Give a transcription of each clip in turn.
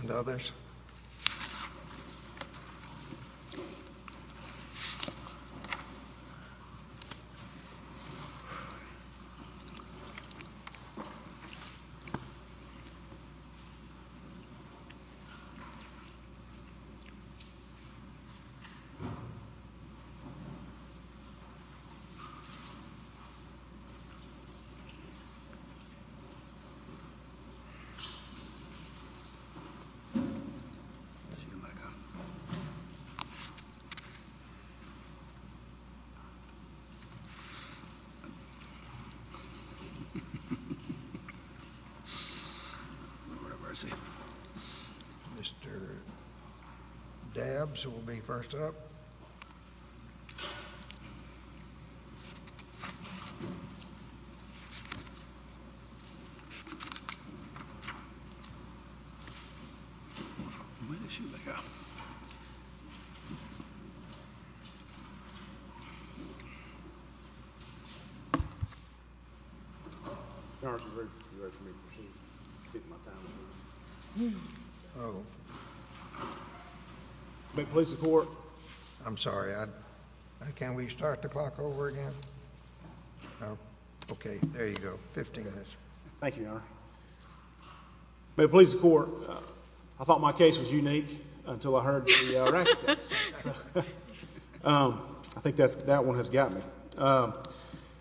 And others Mr. Dabbs will be first up. Where did Shoemaker go? Where did Shoemaker go?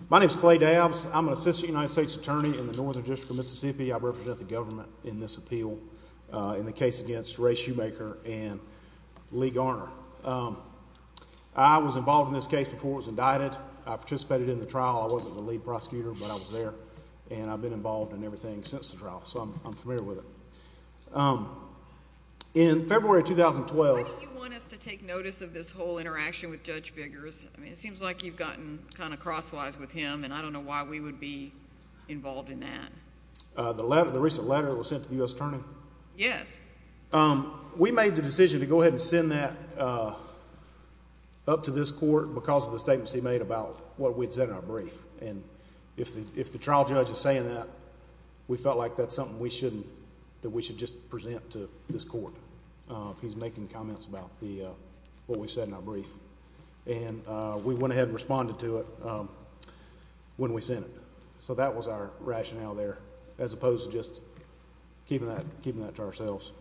My name is Clay Dabbs. I'm an assistant United States attorney in the Northern District of Mississippi. I represent the government in this appeal in the case against Ray Shoemaker and Lee Garner. I was involved in this case before it was indicted. I participated in the trial. I wasn't the lead prosecutor, but I was there, and I've been involved in everything since the trial, so I'm familiar with it. Why do you want us to take notice of this whole interaction with Judge Biggers? I mean, it seems like you've gotten kind of crosswise with him, and I don't know why we would be involved in that. The recent letter that was sent to the U.S. Attorney? Yes. We made the decision to go ahead and send that up to this court because of the statements he made about what we'd said in our brief. And if the trial judge is saying that, we felt like that's something that we should just present to this court. He's making comments about what we said in our brief. And we went ahead and responded to it when we sent it. So that was our rationale there as opposed to just keeping that to ourselves.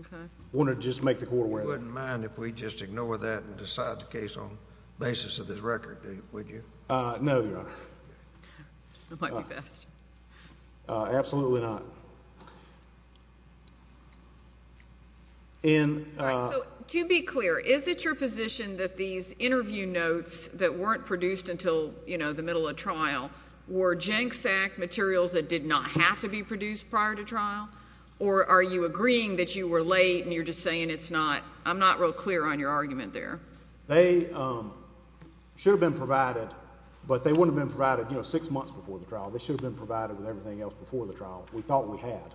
Okay. I wanted to just make the court aware of that. You wouldn't mind if we just ignore that and decide the case on the basis of this record, would you? No, Your Honor. That might be best. Absolutely not. To be clear, is it your position that these interview notes that weren't produced until, you know, the middle of trial, were JNCSAC materials that did not have to be produced prior to trial? Or are you agreeing that you were late and you're just saying it's not? I'm not real clear on your argument there. They should have been provided, but they wouldn't have been provided, you know, six months before the trial. They should have been provided with everything else before the trial. We thought we had.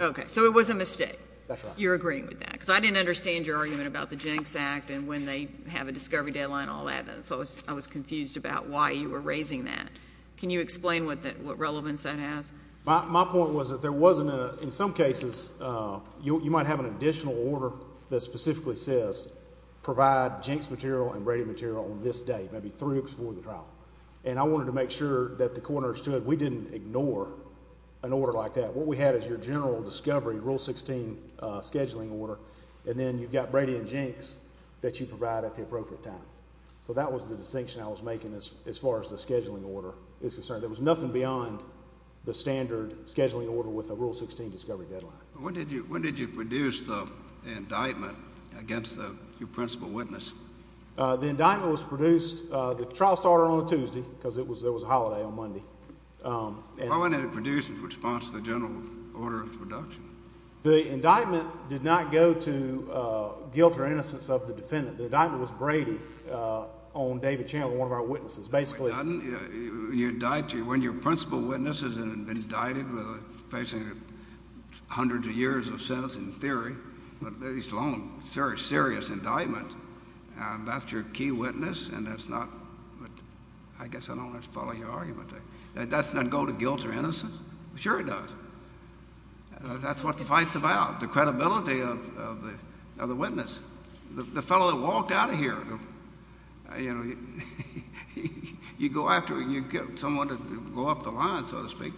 Okay. So it was a mistake. That's right. You're agreeing with that? Because I didn't understand your argument about the JNCSAC and when they have a discovery deadline and all that. So I was confused about why you were raising that. Can you explain what relevance that has? My point was that there wasn't a, in some cases, you might have an additional order that specifically says provide JNCSAC material and Brady material on this date, maybe three weeks before the trial. And I wanted to make sure that the coroner stood. We didn't ignore an order like that. What we had is your general discovery, Rule 16 scheduling order, and then you've got Brady and JNCS that you provide at the appropriate time. So that was the distinction I was making as far as the scheduling order is concerned. There was nothing beyond the standard scheduling order with a Rule 16 discovery deadline. When did you produce the indictment against your principal witness? The indictment was produced, the trial started on a Tuesday because there was a holiday on Monday. Why wasn't it produced in response to the general order of production? The indictment did not go to guilt or innocence of the defendant. The indictment was Brady on David Channel, one of our witnesses. When your principal witness is indicted facing hundreds of years of sentence in theory, let alone a very serious indictment, that's your key witness and that's not, I guess I don't want to follow your argument there. That doesn't go to guilt or innocence. Sure it does. That's what the fight's about, the credibility of the witness. The fellow that walked out of here, you go after someone to go up the line, so to speak.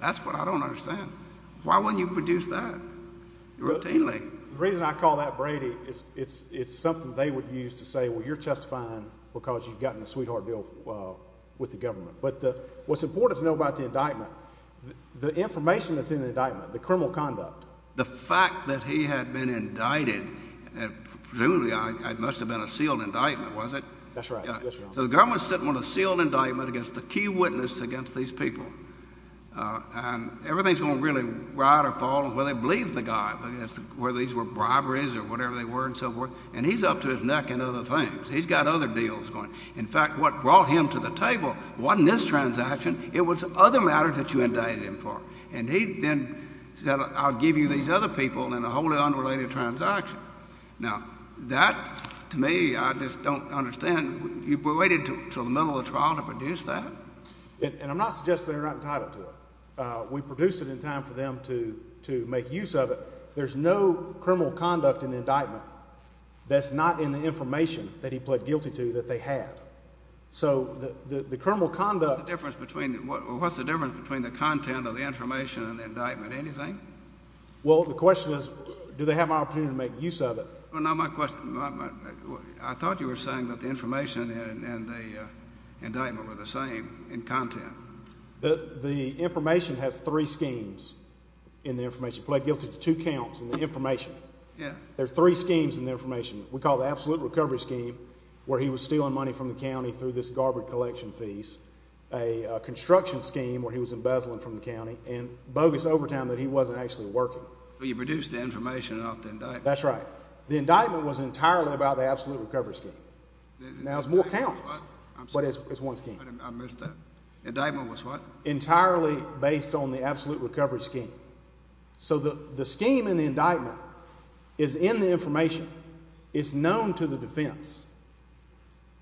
That's what I don't understand. Why wouldn't you produce that routinely? The reason I call that Brady is it's something they would use to say, well, you're justifying because you've gotten a sweetheart deal with the government. But what's important to know about the indictment, the information that's in the indictment, the criminal conduct. The fact that he had been indicted, presumably it must have been a sealed indictment, was it? That's right. So the government sent him on a sealed indictment against the key witness against these people. And everything's going to really ride or fall where they believe the guy, whether these were briberies or whatever they were and so forth. And he's up to his neck in other things. He's got other deals going. In fact, what brought him to the table wasn't this transaction. It was other matters that you indicted him for. And he then said I'll give you these other people in a wholly unrelated transaction. Now, that to me I just don't understand. You waited until the middle of the trial to produce that? And I'm not suggesting they're not entitled to it. We produced it in time for them to make use of it. There's no criminal conduct in the indictment that's not in the information that he pled guilty to that they have. So the criminal conduct— What's the difference between the content of the information and the indictment? Anything? Well, the question is do they have an opportunity to make use of it? I thought you were saying that the information and the indictment were the same in content. The information has three schemes in the information. He pled guilty to two counts in the information. There are three schemes in the information. through this garbage collection fees, a construction scheme where he was embezzling from the county, and bogus overtime that he wasn't actually working. But you produced the information off the indictment. That's right. The indictment was entirely about the absolute recovery scheme. Now there's more counts, but it's one scheme. I missed that. The indictment was what? Entirely based on the absolute recovery scheme. So the scheme in the indictment is in the information. It's known to the defense.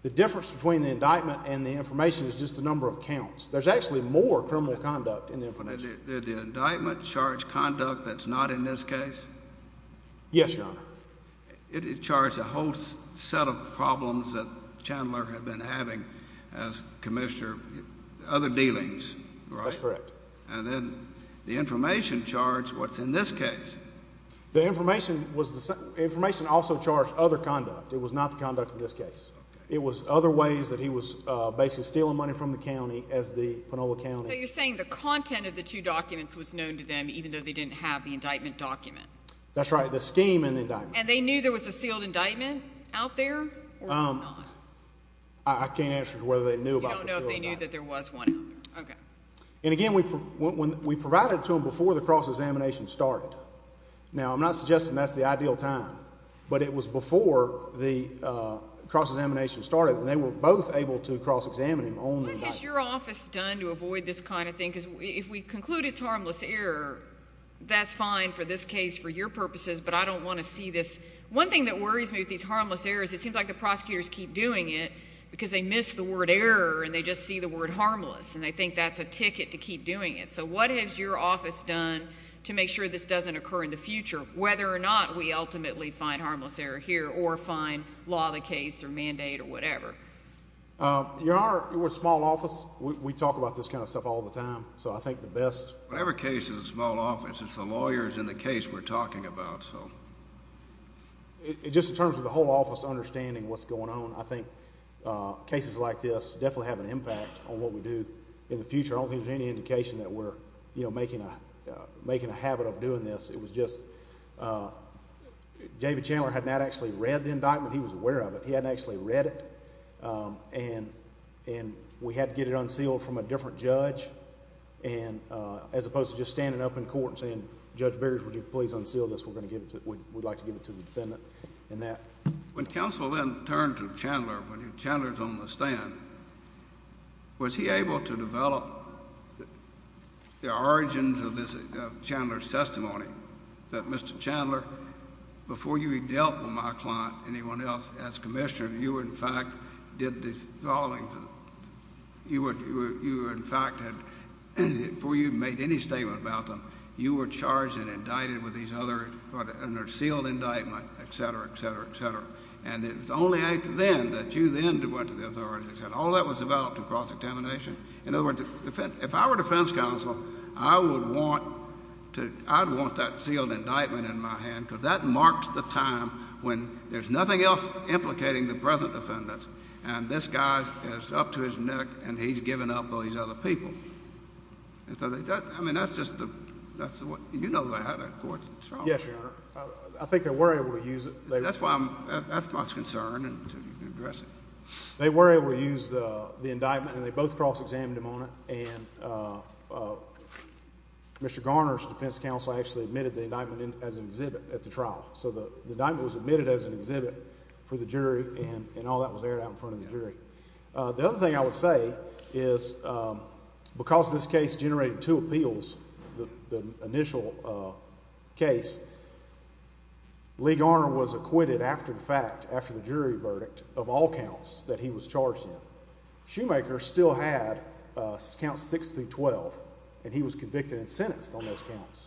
The difference between the indictment and the information is just the number of counts. There's actually more criminal conduct in the information. Did the indictment charge conduct that's not in this case? Yes, Your Honor. It charged a whole set of problems that Chandler had been having as commissioner, other dealings, right? That's correct. And then the information charged what's in this case? The information also charged other conduct. It was not the conduct in this case. It was other ways that he was basically stealing money from the county as the Panola County. So you're saying the content of the two documents was known to them even though they didn't have the indictment document? That's right. The scheme in the indictment. And they knew there was a sealed indictment out there or not? I can't answer whether they knew about the sealed indictment. You don't know if they knew that there was one out there. Okay. And, again, we provided it to them before the cross-examination started. Now I'm not suggesting that's the ideal time. But it was before the cross-examination started, and they were both able to cross-examine him on the indictment. What has your office done to avoid this kind of thing? Because if we conclude it's harmless error, that's fine for this case for your purposes, but I don't want to see this. One thing that worries me with these harmless errors, it seems like the prosecutors keep doing it because they miss the word error, and they just see the word harmless, and they think that's a ticket to keep doing it. So what has your office done to make sure this doesn't occur in the future? Whether or not we ultimately find harmless error here or find law the case or mandate or whatever. Your Honor, we're a small office. We talk about this kind of stuff all the time. So I think the best. Whatever case is a small office, it's the lawyers in the case we're talking about. Just in terms of the whole office understanding what's going on, I think cases like this definitely have an impact on what we do in the future. I don't think there's any indication that we're making a habit of doing this. It was just David Chandler had not actually read the indictment. He was aware of it. He hadn't actually read it. And we had to get it unsealed from a different judge as opposed to just standing up in court and saying, Judge Beers, would you please unseal this? We'd like to give it to the defendant and that. When counsel then turned to Chandler, when Chandler's on the stand, was he able to develop the origins of Chandler's testimony that, Mr. Chandler, before you dealt with my client, anyone else, as commissioner, you in fact did the following. You in fact had, before you made any statement about them, you were charged and indicted with these other sealed indictments, et cetera, et cetera, et cetera. And it was only then that you then went to the authorities. All that was developed in cross-examination. In other words, if I were defense counsel, I would want that sealed indictment in my hand because that marks the time when there's nothing else implicating the present defendants and this guy is up to his neck and he's giving up all these other people. I mean, that's just the, that's the way, you know that I had that court in charge. Yes, Your Honor. I think they were able to use it. That's why I'm, that's my concern and to address it. They were able to use the indictment and they both cross-examined him on it and Mr. Garner's defense counsel actually admitted the indictment as an exhibit at the trial. So the indictment was admitted as an exhibit for the jury and all that was aired out in front of the jury. The other thing I would say is because this case generated two appeals, the initial case, Lee Garner was acquitted after the fact, after the jury verdict, of all counts that he was charged in. Shoemaker still had counts 6 through 12 and he was convicted and sentenced on those counts.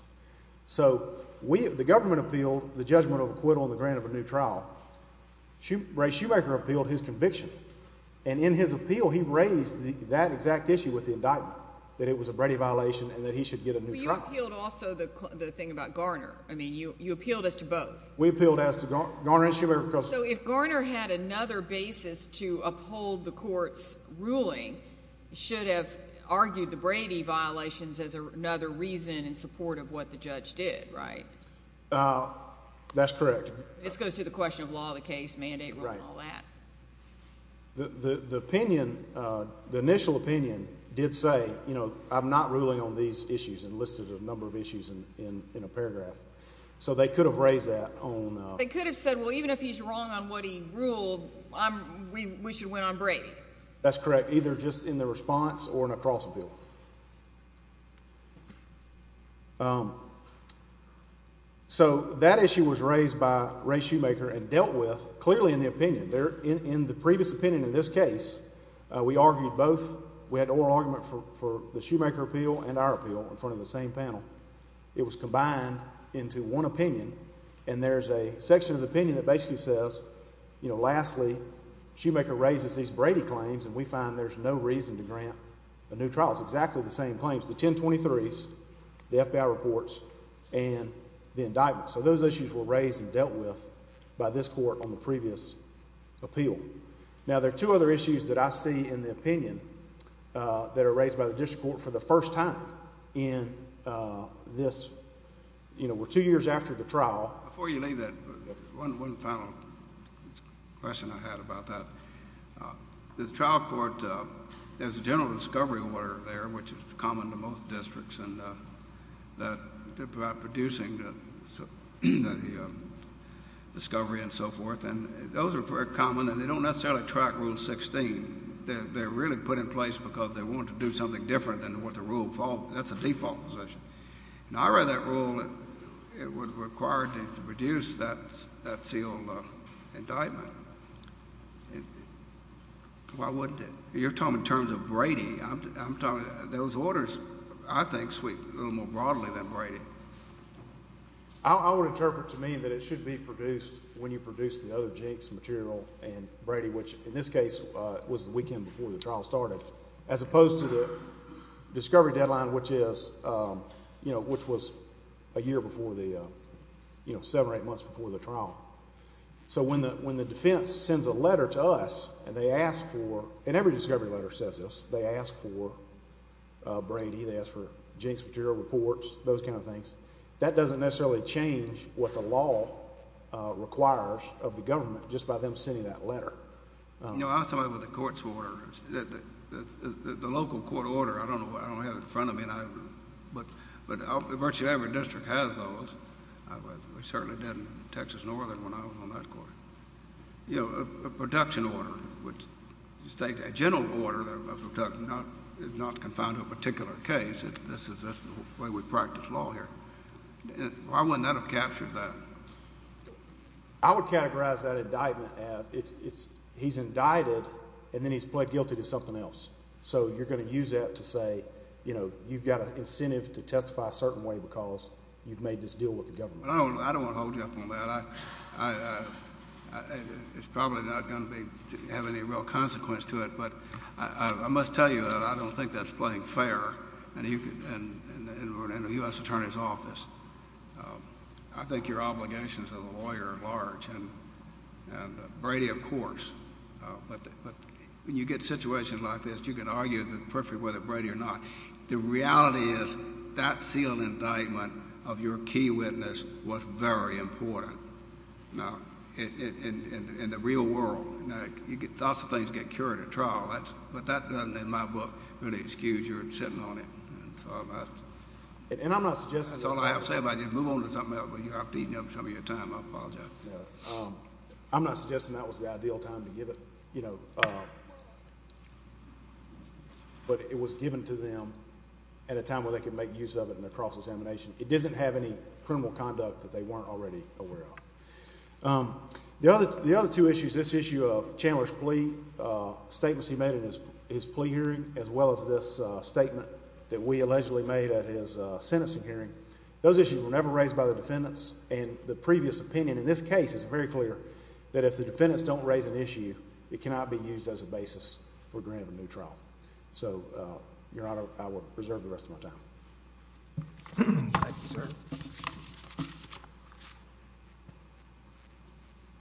So we, the government appealed the judgment of acquittal and the grant of a new trial. Ray Shoemaker appealed his conviction and in his appeal he raised that exact issue with the indictment, that it was a Brady violation and that he should get a new trial. But you appealed also the thing about Garner. I mean, you appealed as to both. We appealed as to Garner and Shoemaker. So if Garner had another basis to uphold the court's ruling, should have argued the Brady violations as another reason in support of what the judge did, right? That's correct. This goes to the question of law of the case, mandate rule and all that. The opinion, the initial opinion did say, you know, I'm not ruling on these issues and listed a number of issues in a paragraph. So they could have raised that on… They could have said, well, even if he's wrong on what he ruled, we should win on Brady. That's correct, either just in the response or in a cross appeal. So that issue was raised by Ray Shoemaker and dealt with clearly in the opinion. In the previous opinion in this case, we argued both. We had an oral argument for the Shoemaker appeal and our appeal in front of the same panel. It was combined into one opinion and there's a section of the opinion that basically says, you know, lastly, Shoemaker raises these Brady claims and we find there's no reason to grant a new trial. It's exactly the same claims, the 1023s, the FBI reports and the indictment. So those issues were raised and dealt with by this court on the previous appeal. Now, there are two other issues that I see in the opinion that are raised by the district court for the first time in this. You know, we're two years after the trial. Before you leave that, one final question I had about that. The trial court, there's a general discovery order there, which is common to most districts, and that producing the discovery and so forth, and those are very common and they don't necessarily track Rule 16. They're really put in place because they want to do something different than what the rule falls. That's a default position. Now, I read that rule that it was required to produce that sealed indictment. Why wouldn't it? You're talking in terms of Brady. Those orders, I think, sweep a little more broadly than Brady. I would interpret to me that it should be produced when you produce the other jinx material and Brady, which in this case was the weekend before the trial started, as opposed to the discovery deadline, which was a year before the, you know, seven or eight months before the trial. So when the defense sends a letter to us and they ask for, and every discovery letter says this, they ask for Brady, they ask for jinx material reports, those kind of things, that doesn't necessarily change what the law requires of the government just by them sending that letter. You know, I was talking about the court's order. The local court order, I don't know why I don't have it in front of me, but virtually every district has those. We certainly did in Texas Northern when I was on that court. You know, a production order, a general order that is not confined to a particular case. That's the way we practice law here. Why wouldn't that have captured that? I would categorize that indictment as he's indicted and then he's pled guilty to something else. So you're going to use that to say, you know, you've got an incentive to testify a certain way because you've made this deal with the government. I don't want to hold you up on that. It's probably not going to have any real consequence to it, but I must tell you that I don't think that's playing fair in a U.S. attorney's office. I think your obligations as a lawyer are large, and Brady, of course. But when you get situations like this, you can argue with Brady or not. The reality is that sealed indictment of your key witness was very important. Now, in the real world, lots of things get cured at trial, but that doesn't in my book really excuse your sitting on it. And I'm not suggesting— That's all I have to say about you. Move on to something else. You're eating up some of your time. I apologize. I'm not suggesting that was the ideal time to give it. But it was given to them at a time where they could make use of it in their cross-examination. It doesn't have any criminal conduct that they weren't already aware of. The other two issues, this issue of Chandler's plea, statements he made in his plea hearing, as well as this statement that we allegedly made at his Senate hearing, those issues were never raised by the defendants. And the previous opinion in this case is very clear that if the defendants don't raise an issue, it cannot be used as a basis for granting a new trial. So, Your Honor, I will reserve the rest of my time. Thank you, sir.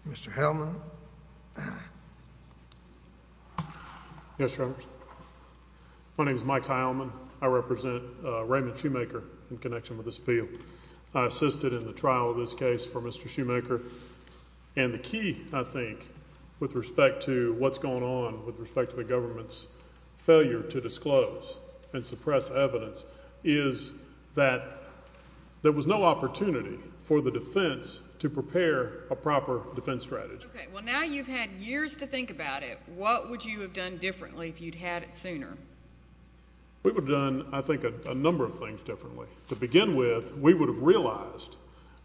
Mr. Hellman. Yes, Your Honor. My name is Mike Hellman. I represent Raymond Shoemaker in connection with this appeal. I assisted in the trial of this case for Mr. Shoemaker. And the key, I think, with respect to what's going on with respect to the government's failure to disclose and suppress evidence is that there was no opportunity for the defense to prepare a proper defense strategy. Okay. Well, now you've had years to think about it. What would you have done differently if you'd had it sooner? We would have done, I think, a number of things differently. To begin with, we would have realized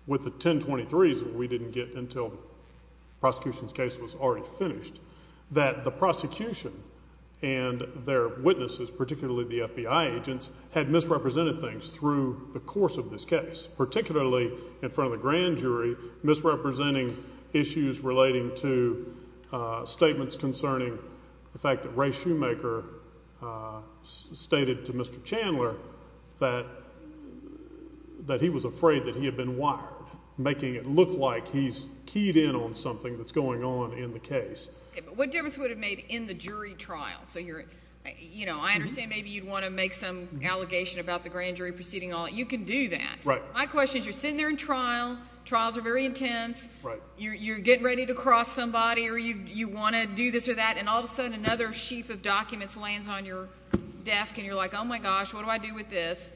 with the 1023s that we didn't get until the prosecution's case was already finished that the prosecution and their witnesses, particularly the FBI agents, had misrepresented things through the course of this case, particularly in front of the grand jury, misrepresenting issues relating to statements concerning the fact that Ray Shoemaker stated to Mr. Chandler that he was afraid that he had been wired, making it look like he's keyed in on something that's going on in the case. Okay. But what difference would it have made in the jury trial? So, you know, I understand maybe you'd want to make some allegation about the grand jury proceeding. You can do that. Right. My question is you're sitting there in trial. Trials are very intense. Right. You're getting ready to cross somebody or you want to do this or that, and all of a sudden another sheaf of documents lands on your desk and you're like, oh, my gosh, what do I do with this?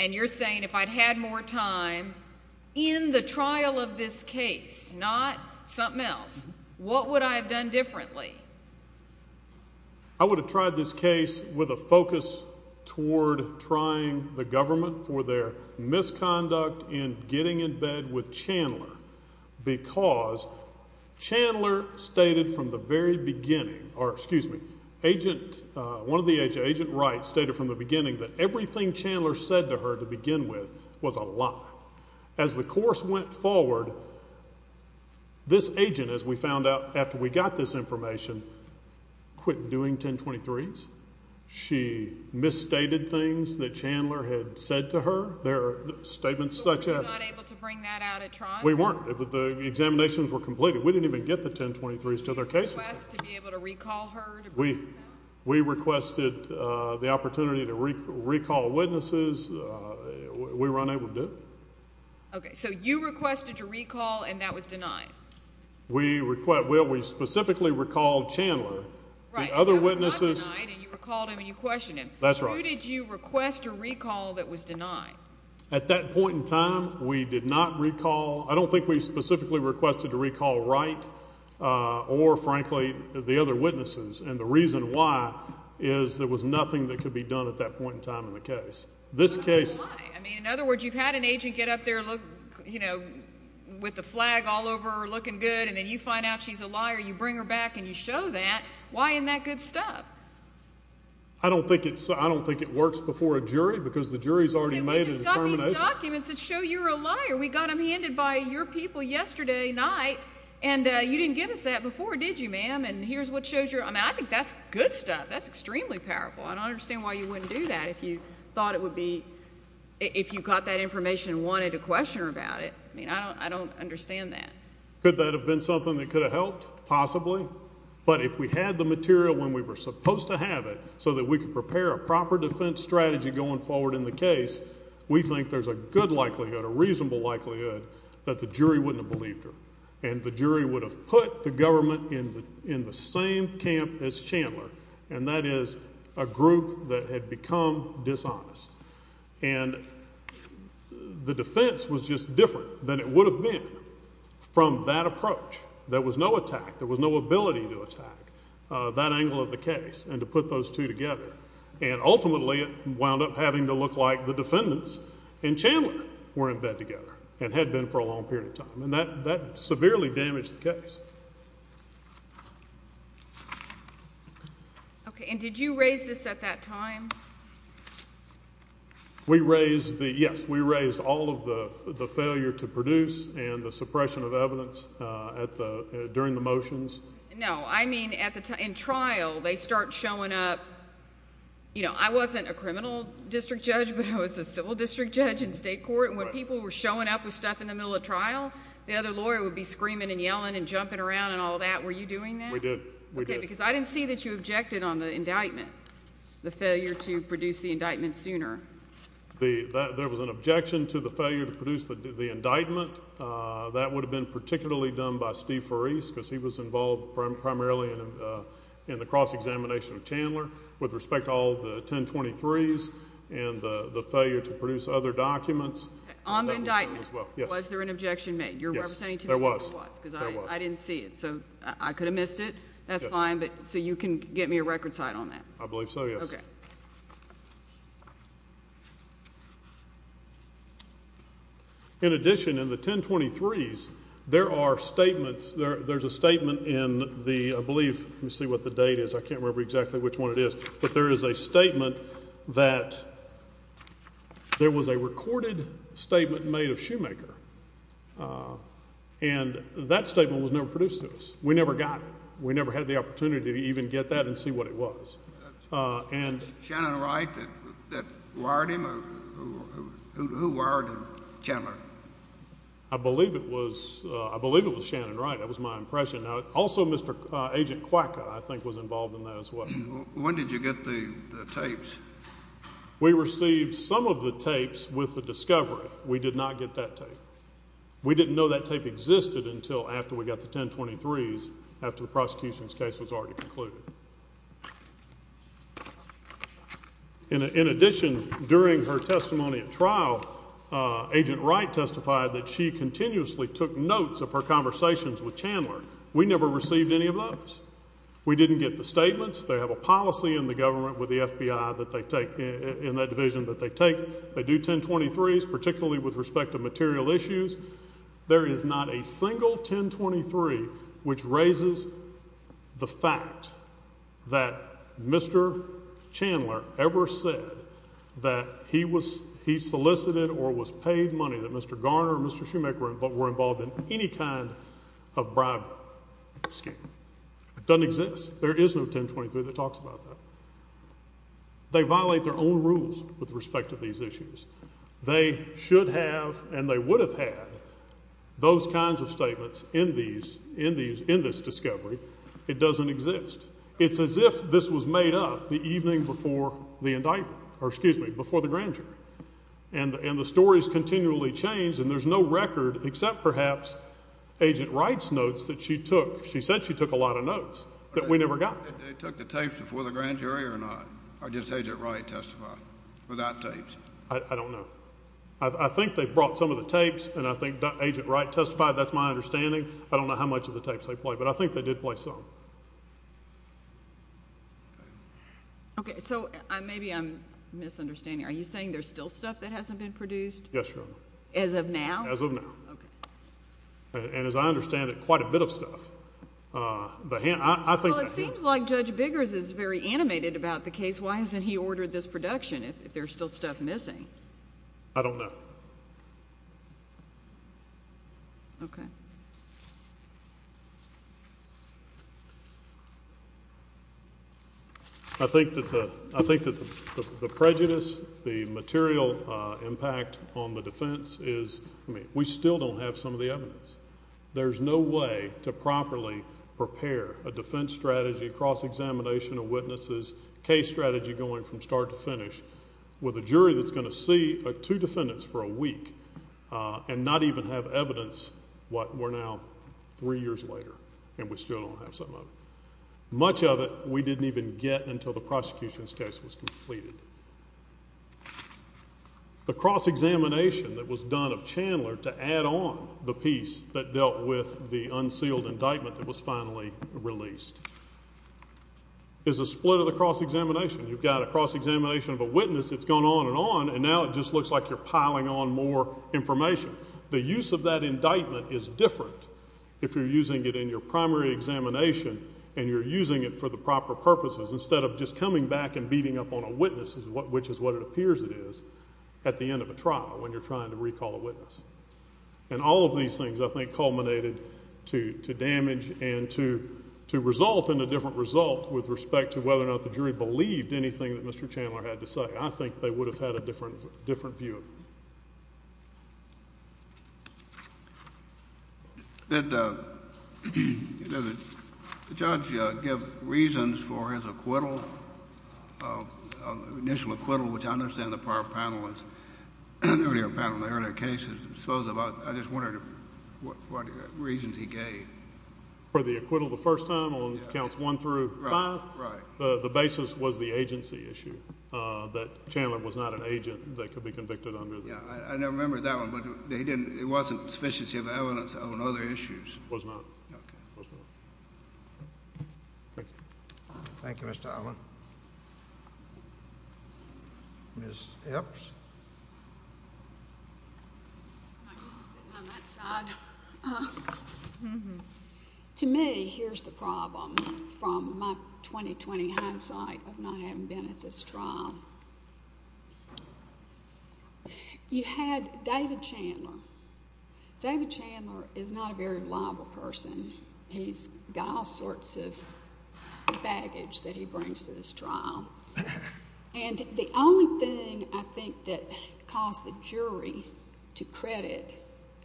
And you're saying if I'd had more time in the trial of this case, not something else, what would I have done differently? I would have tried this case with a focus toward trying the government for their misconduct in getting in bed with Chandler because Chandler stated from the very beginning, or excuse me, Agent Wright stated from the beginning that everything Chandler said to her to begin with was a lie. As the course went forward, this agent, as we found out after we got this information, quit doing 1023s. She misstated things that Chandler had said to her. There are statements such as. Were you not able to bring that out at trial? We weren't. The examinations were completed. We didn't even get the 1023s to their cases. Did you request to be able to recall her to prove herself? We requested the opportunity to recall witnesses. We were unable to do it. Okay, so you requested to recall and that was denied. We specifically recalled Chandler. Right. It was not denied and you recalled him and you questioned him. That's right. Who did you request to recall that was denied? At that point in time, we did not recall. I don't think we specifically requested to recall Wright or, frankly, the other witnesses. And the reason why is there was nothing that could be done at that point in time in the case. Why? In other words, you've had an agent get up there with the flag all over her looking good and then you find out she's a liar. You bring her back and you show that. Why isn't that good stuff? I don't think it works before a jury because the jury has already made a determination. We just got these documents that show you're a liar. We got them handed by your people yesterday night and you didn't give us that before, did you, ma'am? And here's what shows you're a liar. I think that's good stuff. That's extremely powerful. I don't understand why you wouldn't do that if you thought it would be, if you got that information and wanted to question her about it. I mean, I don't understand that. Could that have been something that could have helped? Possibly. But if we had the material when we were supposed to have it so that we could prepare a proper defense strategy going forward in the case, we think there's a good likelihood, a reasonable likelihood, that the jury wouldn't have believed her and the jury would have put the government in the same camp as Chandler, and that is a group that had become dishonest. And the defense was just different than it would have been from that approach. There was no attack. There was no ability to attack that angle of the case and to put those two together. And ultimately it wound up having to look like the defendants and Chandler were in bed together and had been for a long period of time. And that severely damaged the case. Okay. And did you raise this at that time? We raised the, yes, we raised all of the failure to produce and the suppression of evidence during the motions. No. I mean, in trial they start showing up. You know, I wasn't a criminal district judge, but I was a civil district judge in state court, and when people were showing up with stuff in the middle of trial, the other lawyer would be screaming and yelling and jumping around and all that. Were you doing that? We did. Okay, because I didn't see that you objected on the indictment, the failure to produce the indictment sooner. There was an objection to the failure to produce the indictment. That would have been particularly done by Steve Farese because he was involved primarily in the cross-examination of Chandler with respect to all the 1023s and the failure to produce other documents. On the indictment, was there an objection made? Yes, there was. Because I didn't see it, so I could have missed it. That's fine. So you can get me a record cite on that? I believe so, yes. Okay. In addition, in the 1023s, there are statements. There's a statement in the, I believe, let me see what the date is. I can't remember exactly which one it is, but there is a statement that there was a recorded statement made of Shoemaker, and that statement was never produced to us. We never got it. We never had the opportunity to even get that and see what it was. Shannon Wright that wired him? Who wired Chandler? I believe it was Shannon Wright. That was my impression. Also, Agent Quacka, I think, was involved in that as well. When did you get the tapes? We received some of the tapes with the discovery. We did not get that tape. We didn't know that tape existed until after we got the 1023s, after the prosecution's case was already concluded. In addition, during her testimony at trial, Agent Wright testified that she continuously took notes of her conversations with Chandler. We never received any of those. We didn't get the statements. They have a policy in the government with the FBI that they take, in that division that they take. They do 1023s, particularly with respect to material issues. There is not a single 1023 which raises the fact that Mr. Chandler ever said that he solicited or was paid money that Mr. Garner or Mr. Schumacher were involved in any kind of bribery scheme. It doesn't exist. There is no 1023 that talks about that. They violate their own rules with respect to these issues. They should have and they would have had those kinds of statements in this discovery. It doesn't exist. It's as if this was made up the evening before the indictment or, excuse me, before the grand jury. And the story is continually changed, and there's no record except perhaps Agent Wright's notes that she took. She said she took a lot of notes that we never got. Did they take the tapes before the grand jury or not? Or did Agent Wright testify without tapes? I don't know. I think they brought some of the tapes, and I think Agent Wright testified. That's my understanding. I don't know how much of the tapes they played, but I think they did play some. Okay. So maybe I'm misunderstanding. Are you saying there's still stuff that hasn't been produced? Yes, Your Honor. As of now? As of now. Okay. And as I understand it, quite a bit of stuff. Well, it seems like Judge Biggers is very animated about the case. Why hasn't he ordered this production if there's still stuff missing? I don't know. Okay. I think that the prejudice, the material impact on the defense is, I mean, we still don't have some of the evidence. There's no way to properly prepare a defense strategy, a cross-examination of witnesses, case strategy going from start to finish with a jury that's going to see two defendants for a week and not even have evidence what we're now three years later, and we still don't have some of it. Much of it we didn't even get until the prosecution's case was completed. The cross-examination that was done of Chandler to add on the piece that dealt with the unsealed indictment that was finally released is a split of the cross-examination. You've got a cross-examination of a witness that's gone on and on, and now it just looks like you're piling on more information. The use of that indictment is different if you're using it in your primary examination and you're using it for the proper purposes. Instead of just coming back and beating up on a witness, which is what it appears it is, at the end of a trial when you're trying to recall a witness. And all of these things, I think, culminated to damage and to result in a different result with respect to whether or not the jury believed anything that Mr. Chandler had to say. I think they would have had a different view of it. Did the judge give reasons for his acquittal, initial acquittal, which I understand the prior panelist, the earlier panel, the earlier case, I suppose about, I just wondered what reasons he gave. For the acquittal the first time on counts one through five? Right. The basis was the agency issue, that Chandler was not an agent that could be convicted under the... Yeah, I remember that one, but it wasn't sufficiency of evidence on other issues. It was not. Okay. Thank you, Mr. Allen. Ms. Epps? I'm just sitting on that side. To me, here's the problem from my 2020 hindsight of not having been at this trial. You had David Chandler. David Chandler is not a very liable person. He's got all sorts of baggage that he brings to this trial. And the only thing I think that caused the jury to credit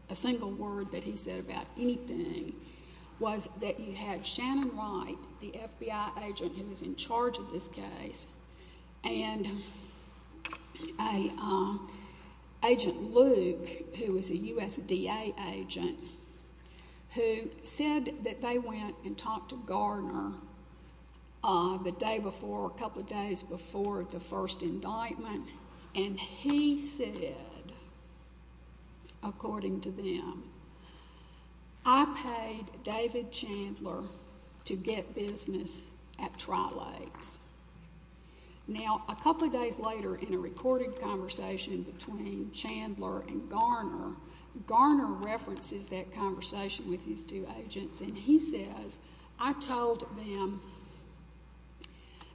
a single word that he said about anything was that you had Shannon Wright, the FBI agent who was in charge of this case, and Agent Luke, who was a USDA agent, who said that they went and talked to Garner the day before, a couple of days before the first indictment, and he said, according to them, I paid David Chandler to get business at Tri-Lakes. Now, a couple of days later, in a recorded conversation between Chandler and Garner, Garner references that conversation with his two agents, and he says, I told them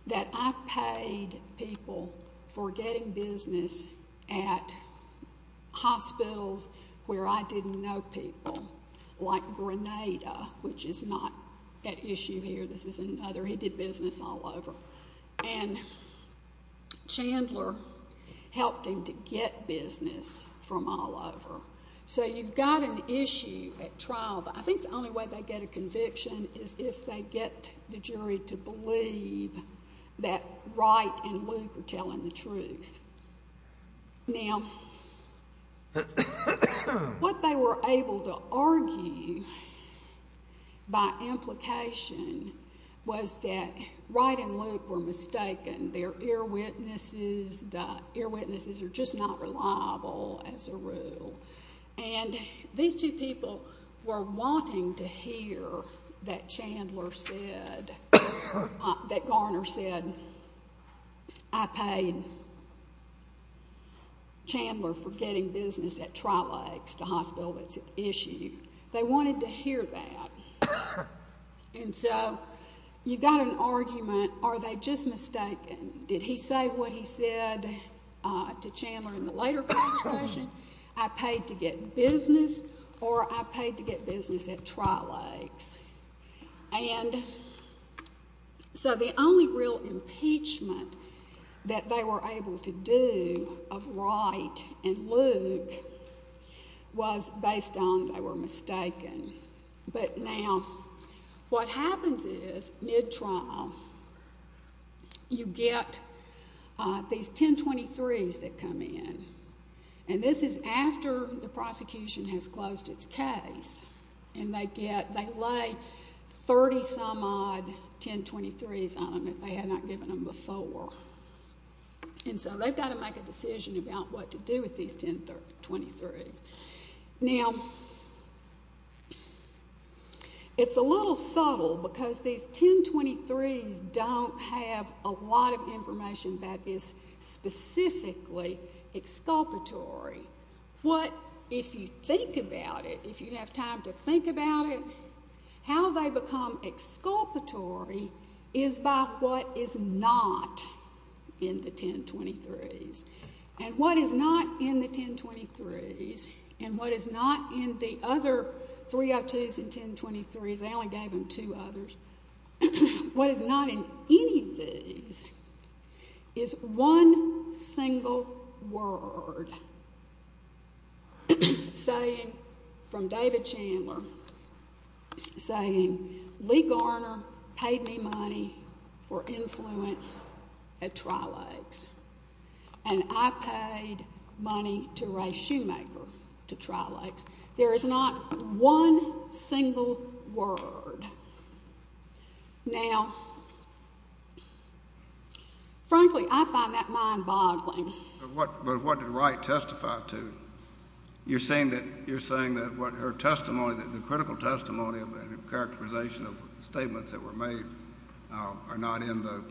that I paid people for getting business at hospitals where I didn't know people, like Grenada, which is not at issue here. This is another. He did business all over. And Chandler helped him to get business from all over. So you've got an issue at trial. I think the only way they get a conviction is if they get the jury to believe that Wright and Luke are telling the truth. Now, what they were able to argue by implication was that Wright and Luke were mistaken. They're earwitnesses. The earwitnesses are just not reliable as a rule. And these two people were wanting to hear that Chandler said, that Garner said, I paid Chandler for getting business at Tri-Lakes, the hospital that's at issue. They wanted to hear that. And so you've got an argument, are they just mistaken? Did he say what he said to Chandler in the later conversation? I paid to get business or I paid to get business at Tri-Lakes. And so the only real impeachment that they were able to do of Wright and Luke was based on they were mistaken. But now what happens is, mid-trial, you get these 1023s that come in. And this is after the prosecution has closed its case. And they lay 30-some-odd 1023s on them that they had not given them before. And so they've got to make a decision about what to do with these 1023s. Now, it's a little subtle because these 1023s don't have a lot of information that is specifically exculpatory. What, if you think about it, if you have time to think about it, how they become exculpatory is by what is not in the 1023s. And what is not in the 1023s and what is not in the other 302s and 1023s, they only gave them two others, what is not in any of these is one single word from David Chandler saying, Lee Garner paid me money for influence at Tri-Lakes. And I paid money to race Shoemaker to Tri-Lakes. There is not one single word. Now, frankly, I find that mind-boggling. But what did Wright testify to? You're saying that what her testimony, the critical testimony of the characterization of statements that were made are not in the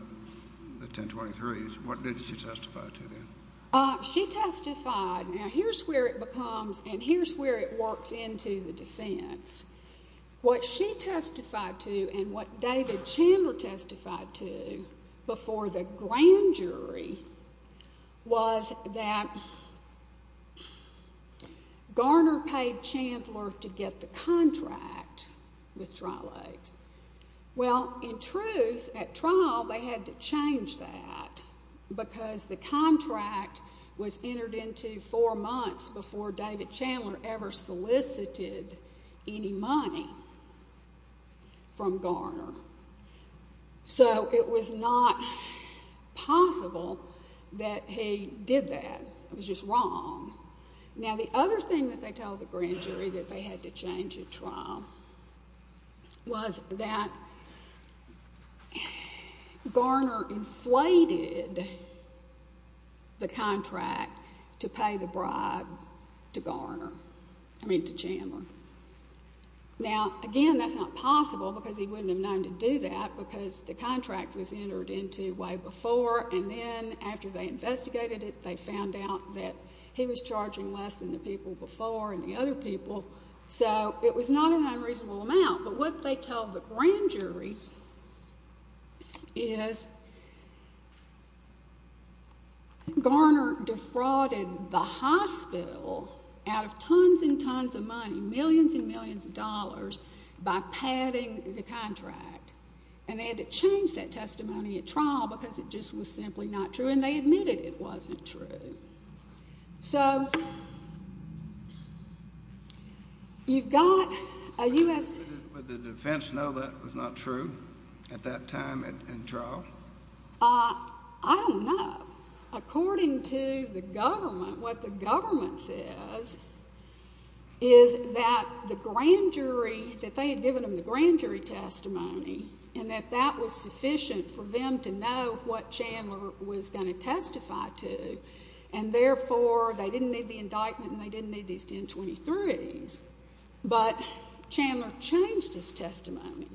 1023s. What did she testify to then? She testified. Now, here's where it becomes and here's where it works into the defense. What she testified to and what David Chandler testified to before the grand jury was that Garner paid Chandler to get the contract with Tri-Lakes. Well, in truth, at trial, they had to change that because the contract was entered into four months before David Chandler ever solicited any money from Garner. So it was not possible that he did that. It was just wrong. Now, the other thing that they tell the grand jury that they had to change at trial was that Garner inflated the contract to pay the bribe to Chandler. Now, again, that's not possible because he wouldn't have known to do that because the contract was entered into way before. And then after they investigated it, they found out that he was charging less than the people before and the other people. So it was not an unreasonable amount. But what they tell the grand jury is Garner defrauded the hospital out of tons and tons of money, millions and millions of dollars, by padding the contract. And they had to change that testimony at trial because it just was simply not true, and they admitted it wasn't true. So you've got a U.S. Did the defense know that was not true at that time in trial? I don't know. According to the government, what the government says is that the grand jury, that they had given them the grand jury testimony, and that that was sufficient for them to know what Chandler was going to testify to, and therefore they didn't need the indictment and they didn't need these 1023s. But Chandler changed his testimony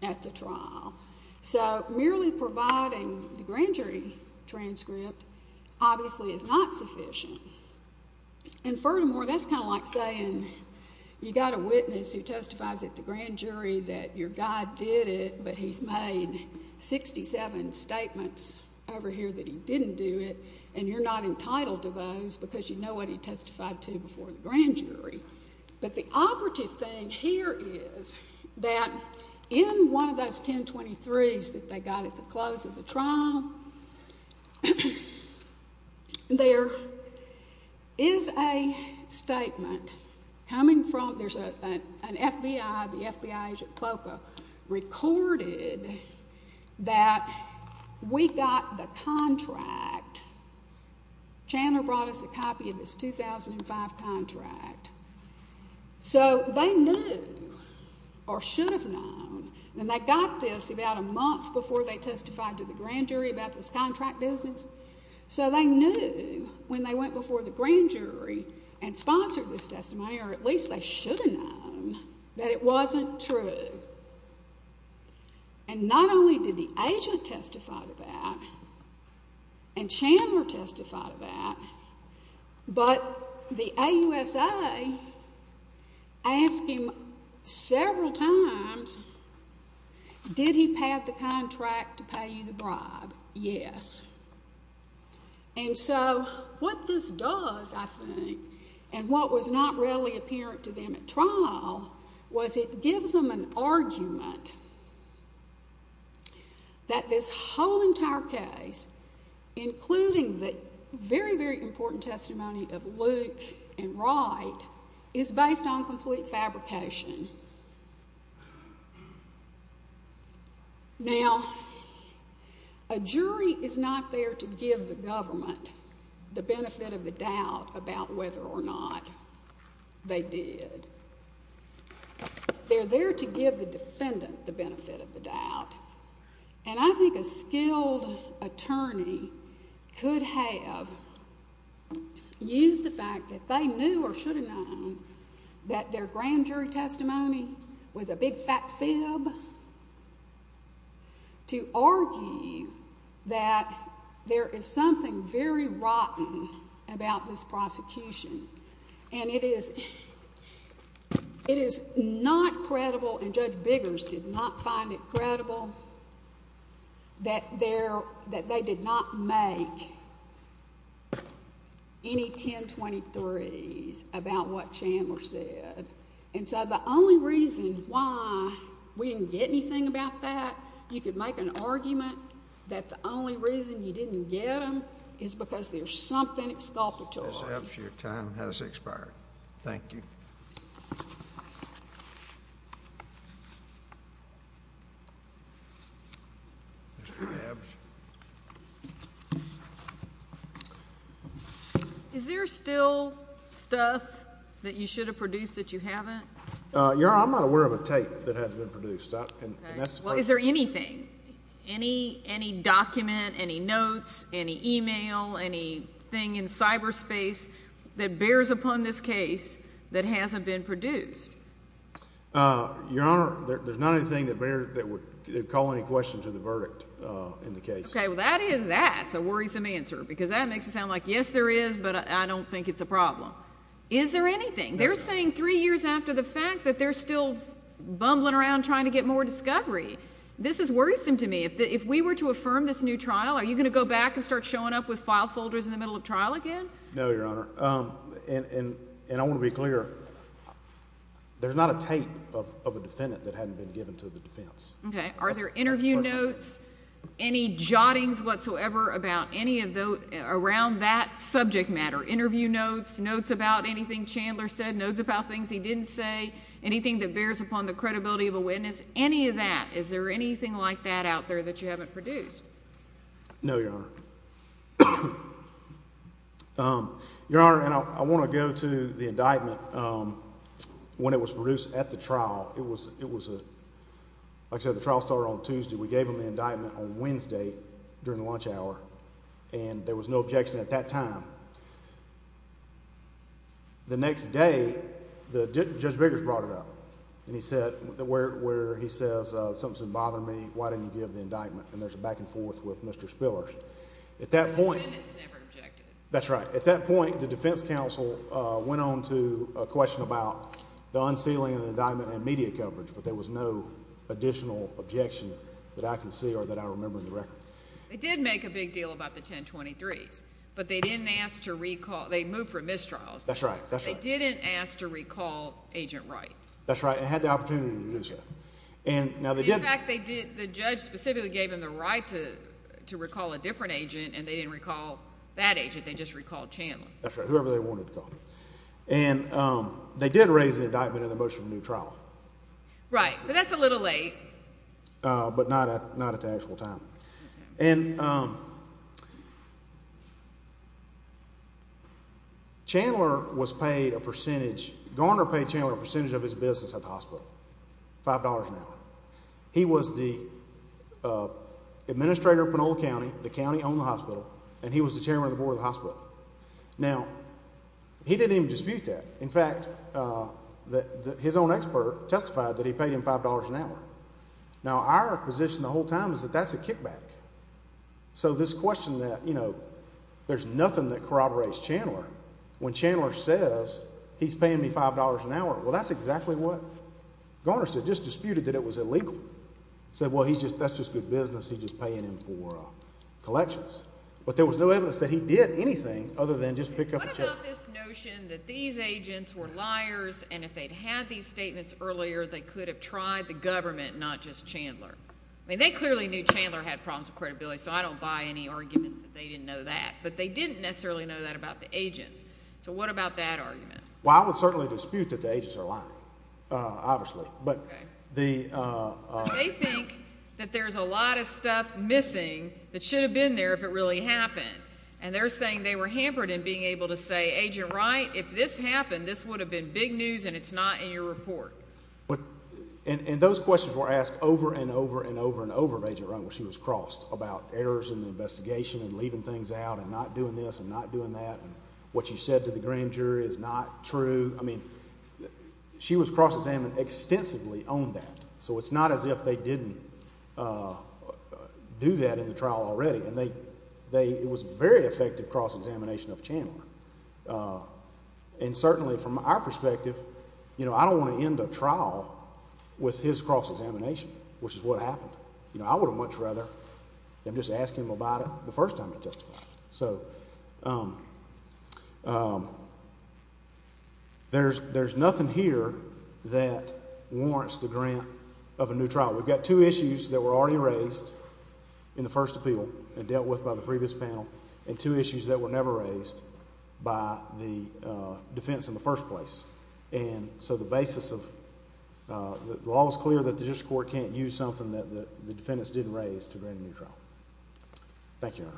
at the trial. So merely providing the grand jury transcript obviously is not sufficient. And furthermore, that's kind of like saying you've got a witness who testifies at the grand jury that your guy did it, but he's made 67 statements over here that he didn't do it, and you're not entitled to those because you know what he testified to before the grand jury. But the operative thing here is that in one of those 1023s that they got at the close of the trial, there is a statement coming from an FBI, the FBI agent POCA, recorded that we got the contract. Chandler brought us a copy of this 2005 contract. So they knew or should have known, and they got this about a month before they testified to the grand jury about this contract business, so they knew when they went before the grand jury and sponsored this testimony, or at least they should have known, that it wasn't true. And not only did the agent testify to that, and Chandler testified to that, but the AUSA asked him several times, did he have the contract to pay you the bribe? Yes. And so what this does, I think, and what was not readily apparent to them at trial, was it gives them an argument that this whole entire case, including the very, very important testimony of Luke and Wright, is based on complete fabrication. Now, a jury is not there to give the government the benefit of the doubt about whether or not they did. They're there to give the defendant the benefit of the doubt, and I think a skilled attorney could have used the fact that they knew or should have known that their grand jury testimony was a big, fat fib to argue that there is something very rotten about this prosecution. And it is not credible, and Judge Biggers did not find it credible, that they did not make any 1023s about what Chandler said. And so the only reason why we didn't get anything about that, you could make an argument that the only reason you didn't get them is because there's something exculpatory. Ms. Epps, your time has expired. Thank you. Mr. Krabs. Is there still stuff that you should have produced that you haven't? Your Honor, I'm not aware of a tape that hasn't been produced. Well, is there anything, any document, any notes, any e-mail, anything in cyberspace that bears upon this case that hasn't been produced? Your Honor, there's not anything that would call any question to the verdict in the case. Okay, well, that is a worrisome answer, because that makes it sound like, yes, there is, but I don't think it's a problem. Is there anything? They're saying three years after the fact that they're still bumbling around trying to get more discovery. This is worrisome to me. If we were to affirm this new trial, are you going to go back and start showing up with file folders in the middle of trial again? No, Your Honor. And I want to be clear, there's not a tape of a defendant that hadn't been given to the defense. Okay. Are there interview notes, any jottings whatsoever around that subject matter, interview notes, notes about anything Chandler said, notes about things he didn't say, anything that bears upon the credibility of a witness, any of that? Is there anything like that out there that you haven't produced? No, Your Honor. Your Honor, and I want to go to the indictment when it was produced at the trial. It was, like I said, the trial started on Tuesday. We gave him the indictment on Wednesday during lunch hour, and there was no objection at that time. The next day, Judge Biggers brought it up, where he says, Why didn't you give the indictment? And there's a back and forth with Mr. Spillers. The defendants never objected. That's right. At that point, the defense counsel went on to a question about the unsealing of the indictment and media coverage, but there was no additional objection that I can see or that I remember in the record. They did make a big deal about the 1023s, but they didn't ask to recall. They moved from mistrials. That's right. They didn't ask to recall Agent Wright. That's right, and had the opportunity to do so. In fact, they did. The judge specifically gave him the right to recall a different agent, and they didn't recall that agent. They just recalled Chandler. That's right, whoever they wanted to call him. And they did raise the indictment in the motion of the new trial. Right, but that's a little late. Chandler was paid a percentage. Garner paid Chandler a percentage of his business at the hospital, $5 an hour. He was the administrator of Pinole County, the county on the hospital, and he was the chairman of the board of the hospital. Now, he didn't even dispute that. In fact, his own expert testified that he paid him $5 an hour. Now, our position the whole time is that that's a kickback. So this question that, you know, there's nothing that corroborates Chandler, when Chandler says he's paying me $5 an hour, well, that's exactly what Garner said, just disputed that it was illegal. He said, well, that's just good business. He's just paying him for collections. But there was no evidence that he did anything other than just pick up a check. What about this notion that these agents were liars, and if they'd had these statements earlier, they could have tried the government, not just Chandler? I mean, they clearly knew Chandler had problems with credibility, so I don't buy any argument that they didn't know that. But they didn't necessarily know that about the agents. So what about that argument? Well, I would certainly dispute that the agents are lying, obviously. But they think that there's a lot of stuff missing that should have been there if it really happened. And they're saying they were hampered in being able to say, Agent Wright, if this happened, this would have been big news and it's not in your report. And those questions were asked over and over and over and over, Agent Wright, when she was crossed about errors in the investigation and leaving things out and not doing this and not doing that and what you said to the grand jury is not true. I mean, she was cross-examined extensively on that, so it's not as if they didn't do that in the trial already. And it was a very effective cross-examination of Chandler. And certainly from our perspective, you know, I don't want to end a trial with his cross-examination, which is what happened. You know, I would have much rather them just asking him about it the first time they testified. So there's nothing here that warrants the grant of a new trial. We've got two issues that were already raised in the first appeal and dealt with by the previous panel and two issues that were never raised by the defense in the first place. And so the basis of the law is clear that the district court can't use something that the defendants didn't raise to grant a new trial. Thank you, Your Honor. Thank you, Mr. Abdu.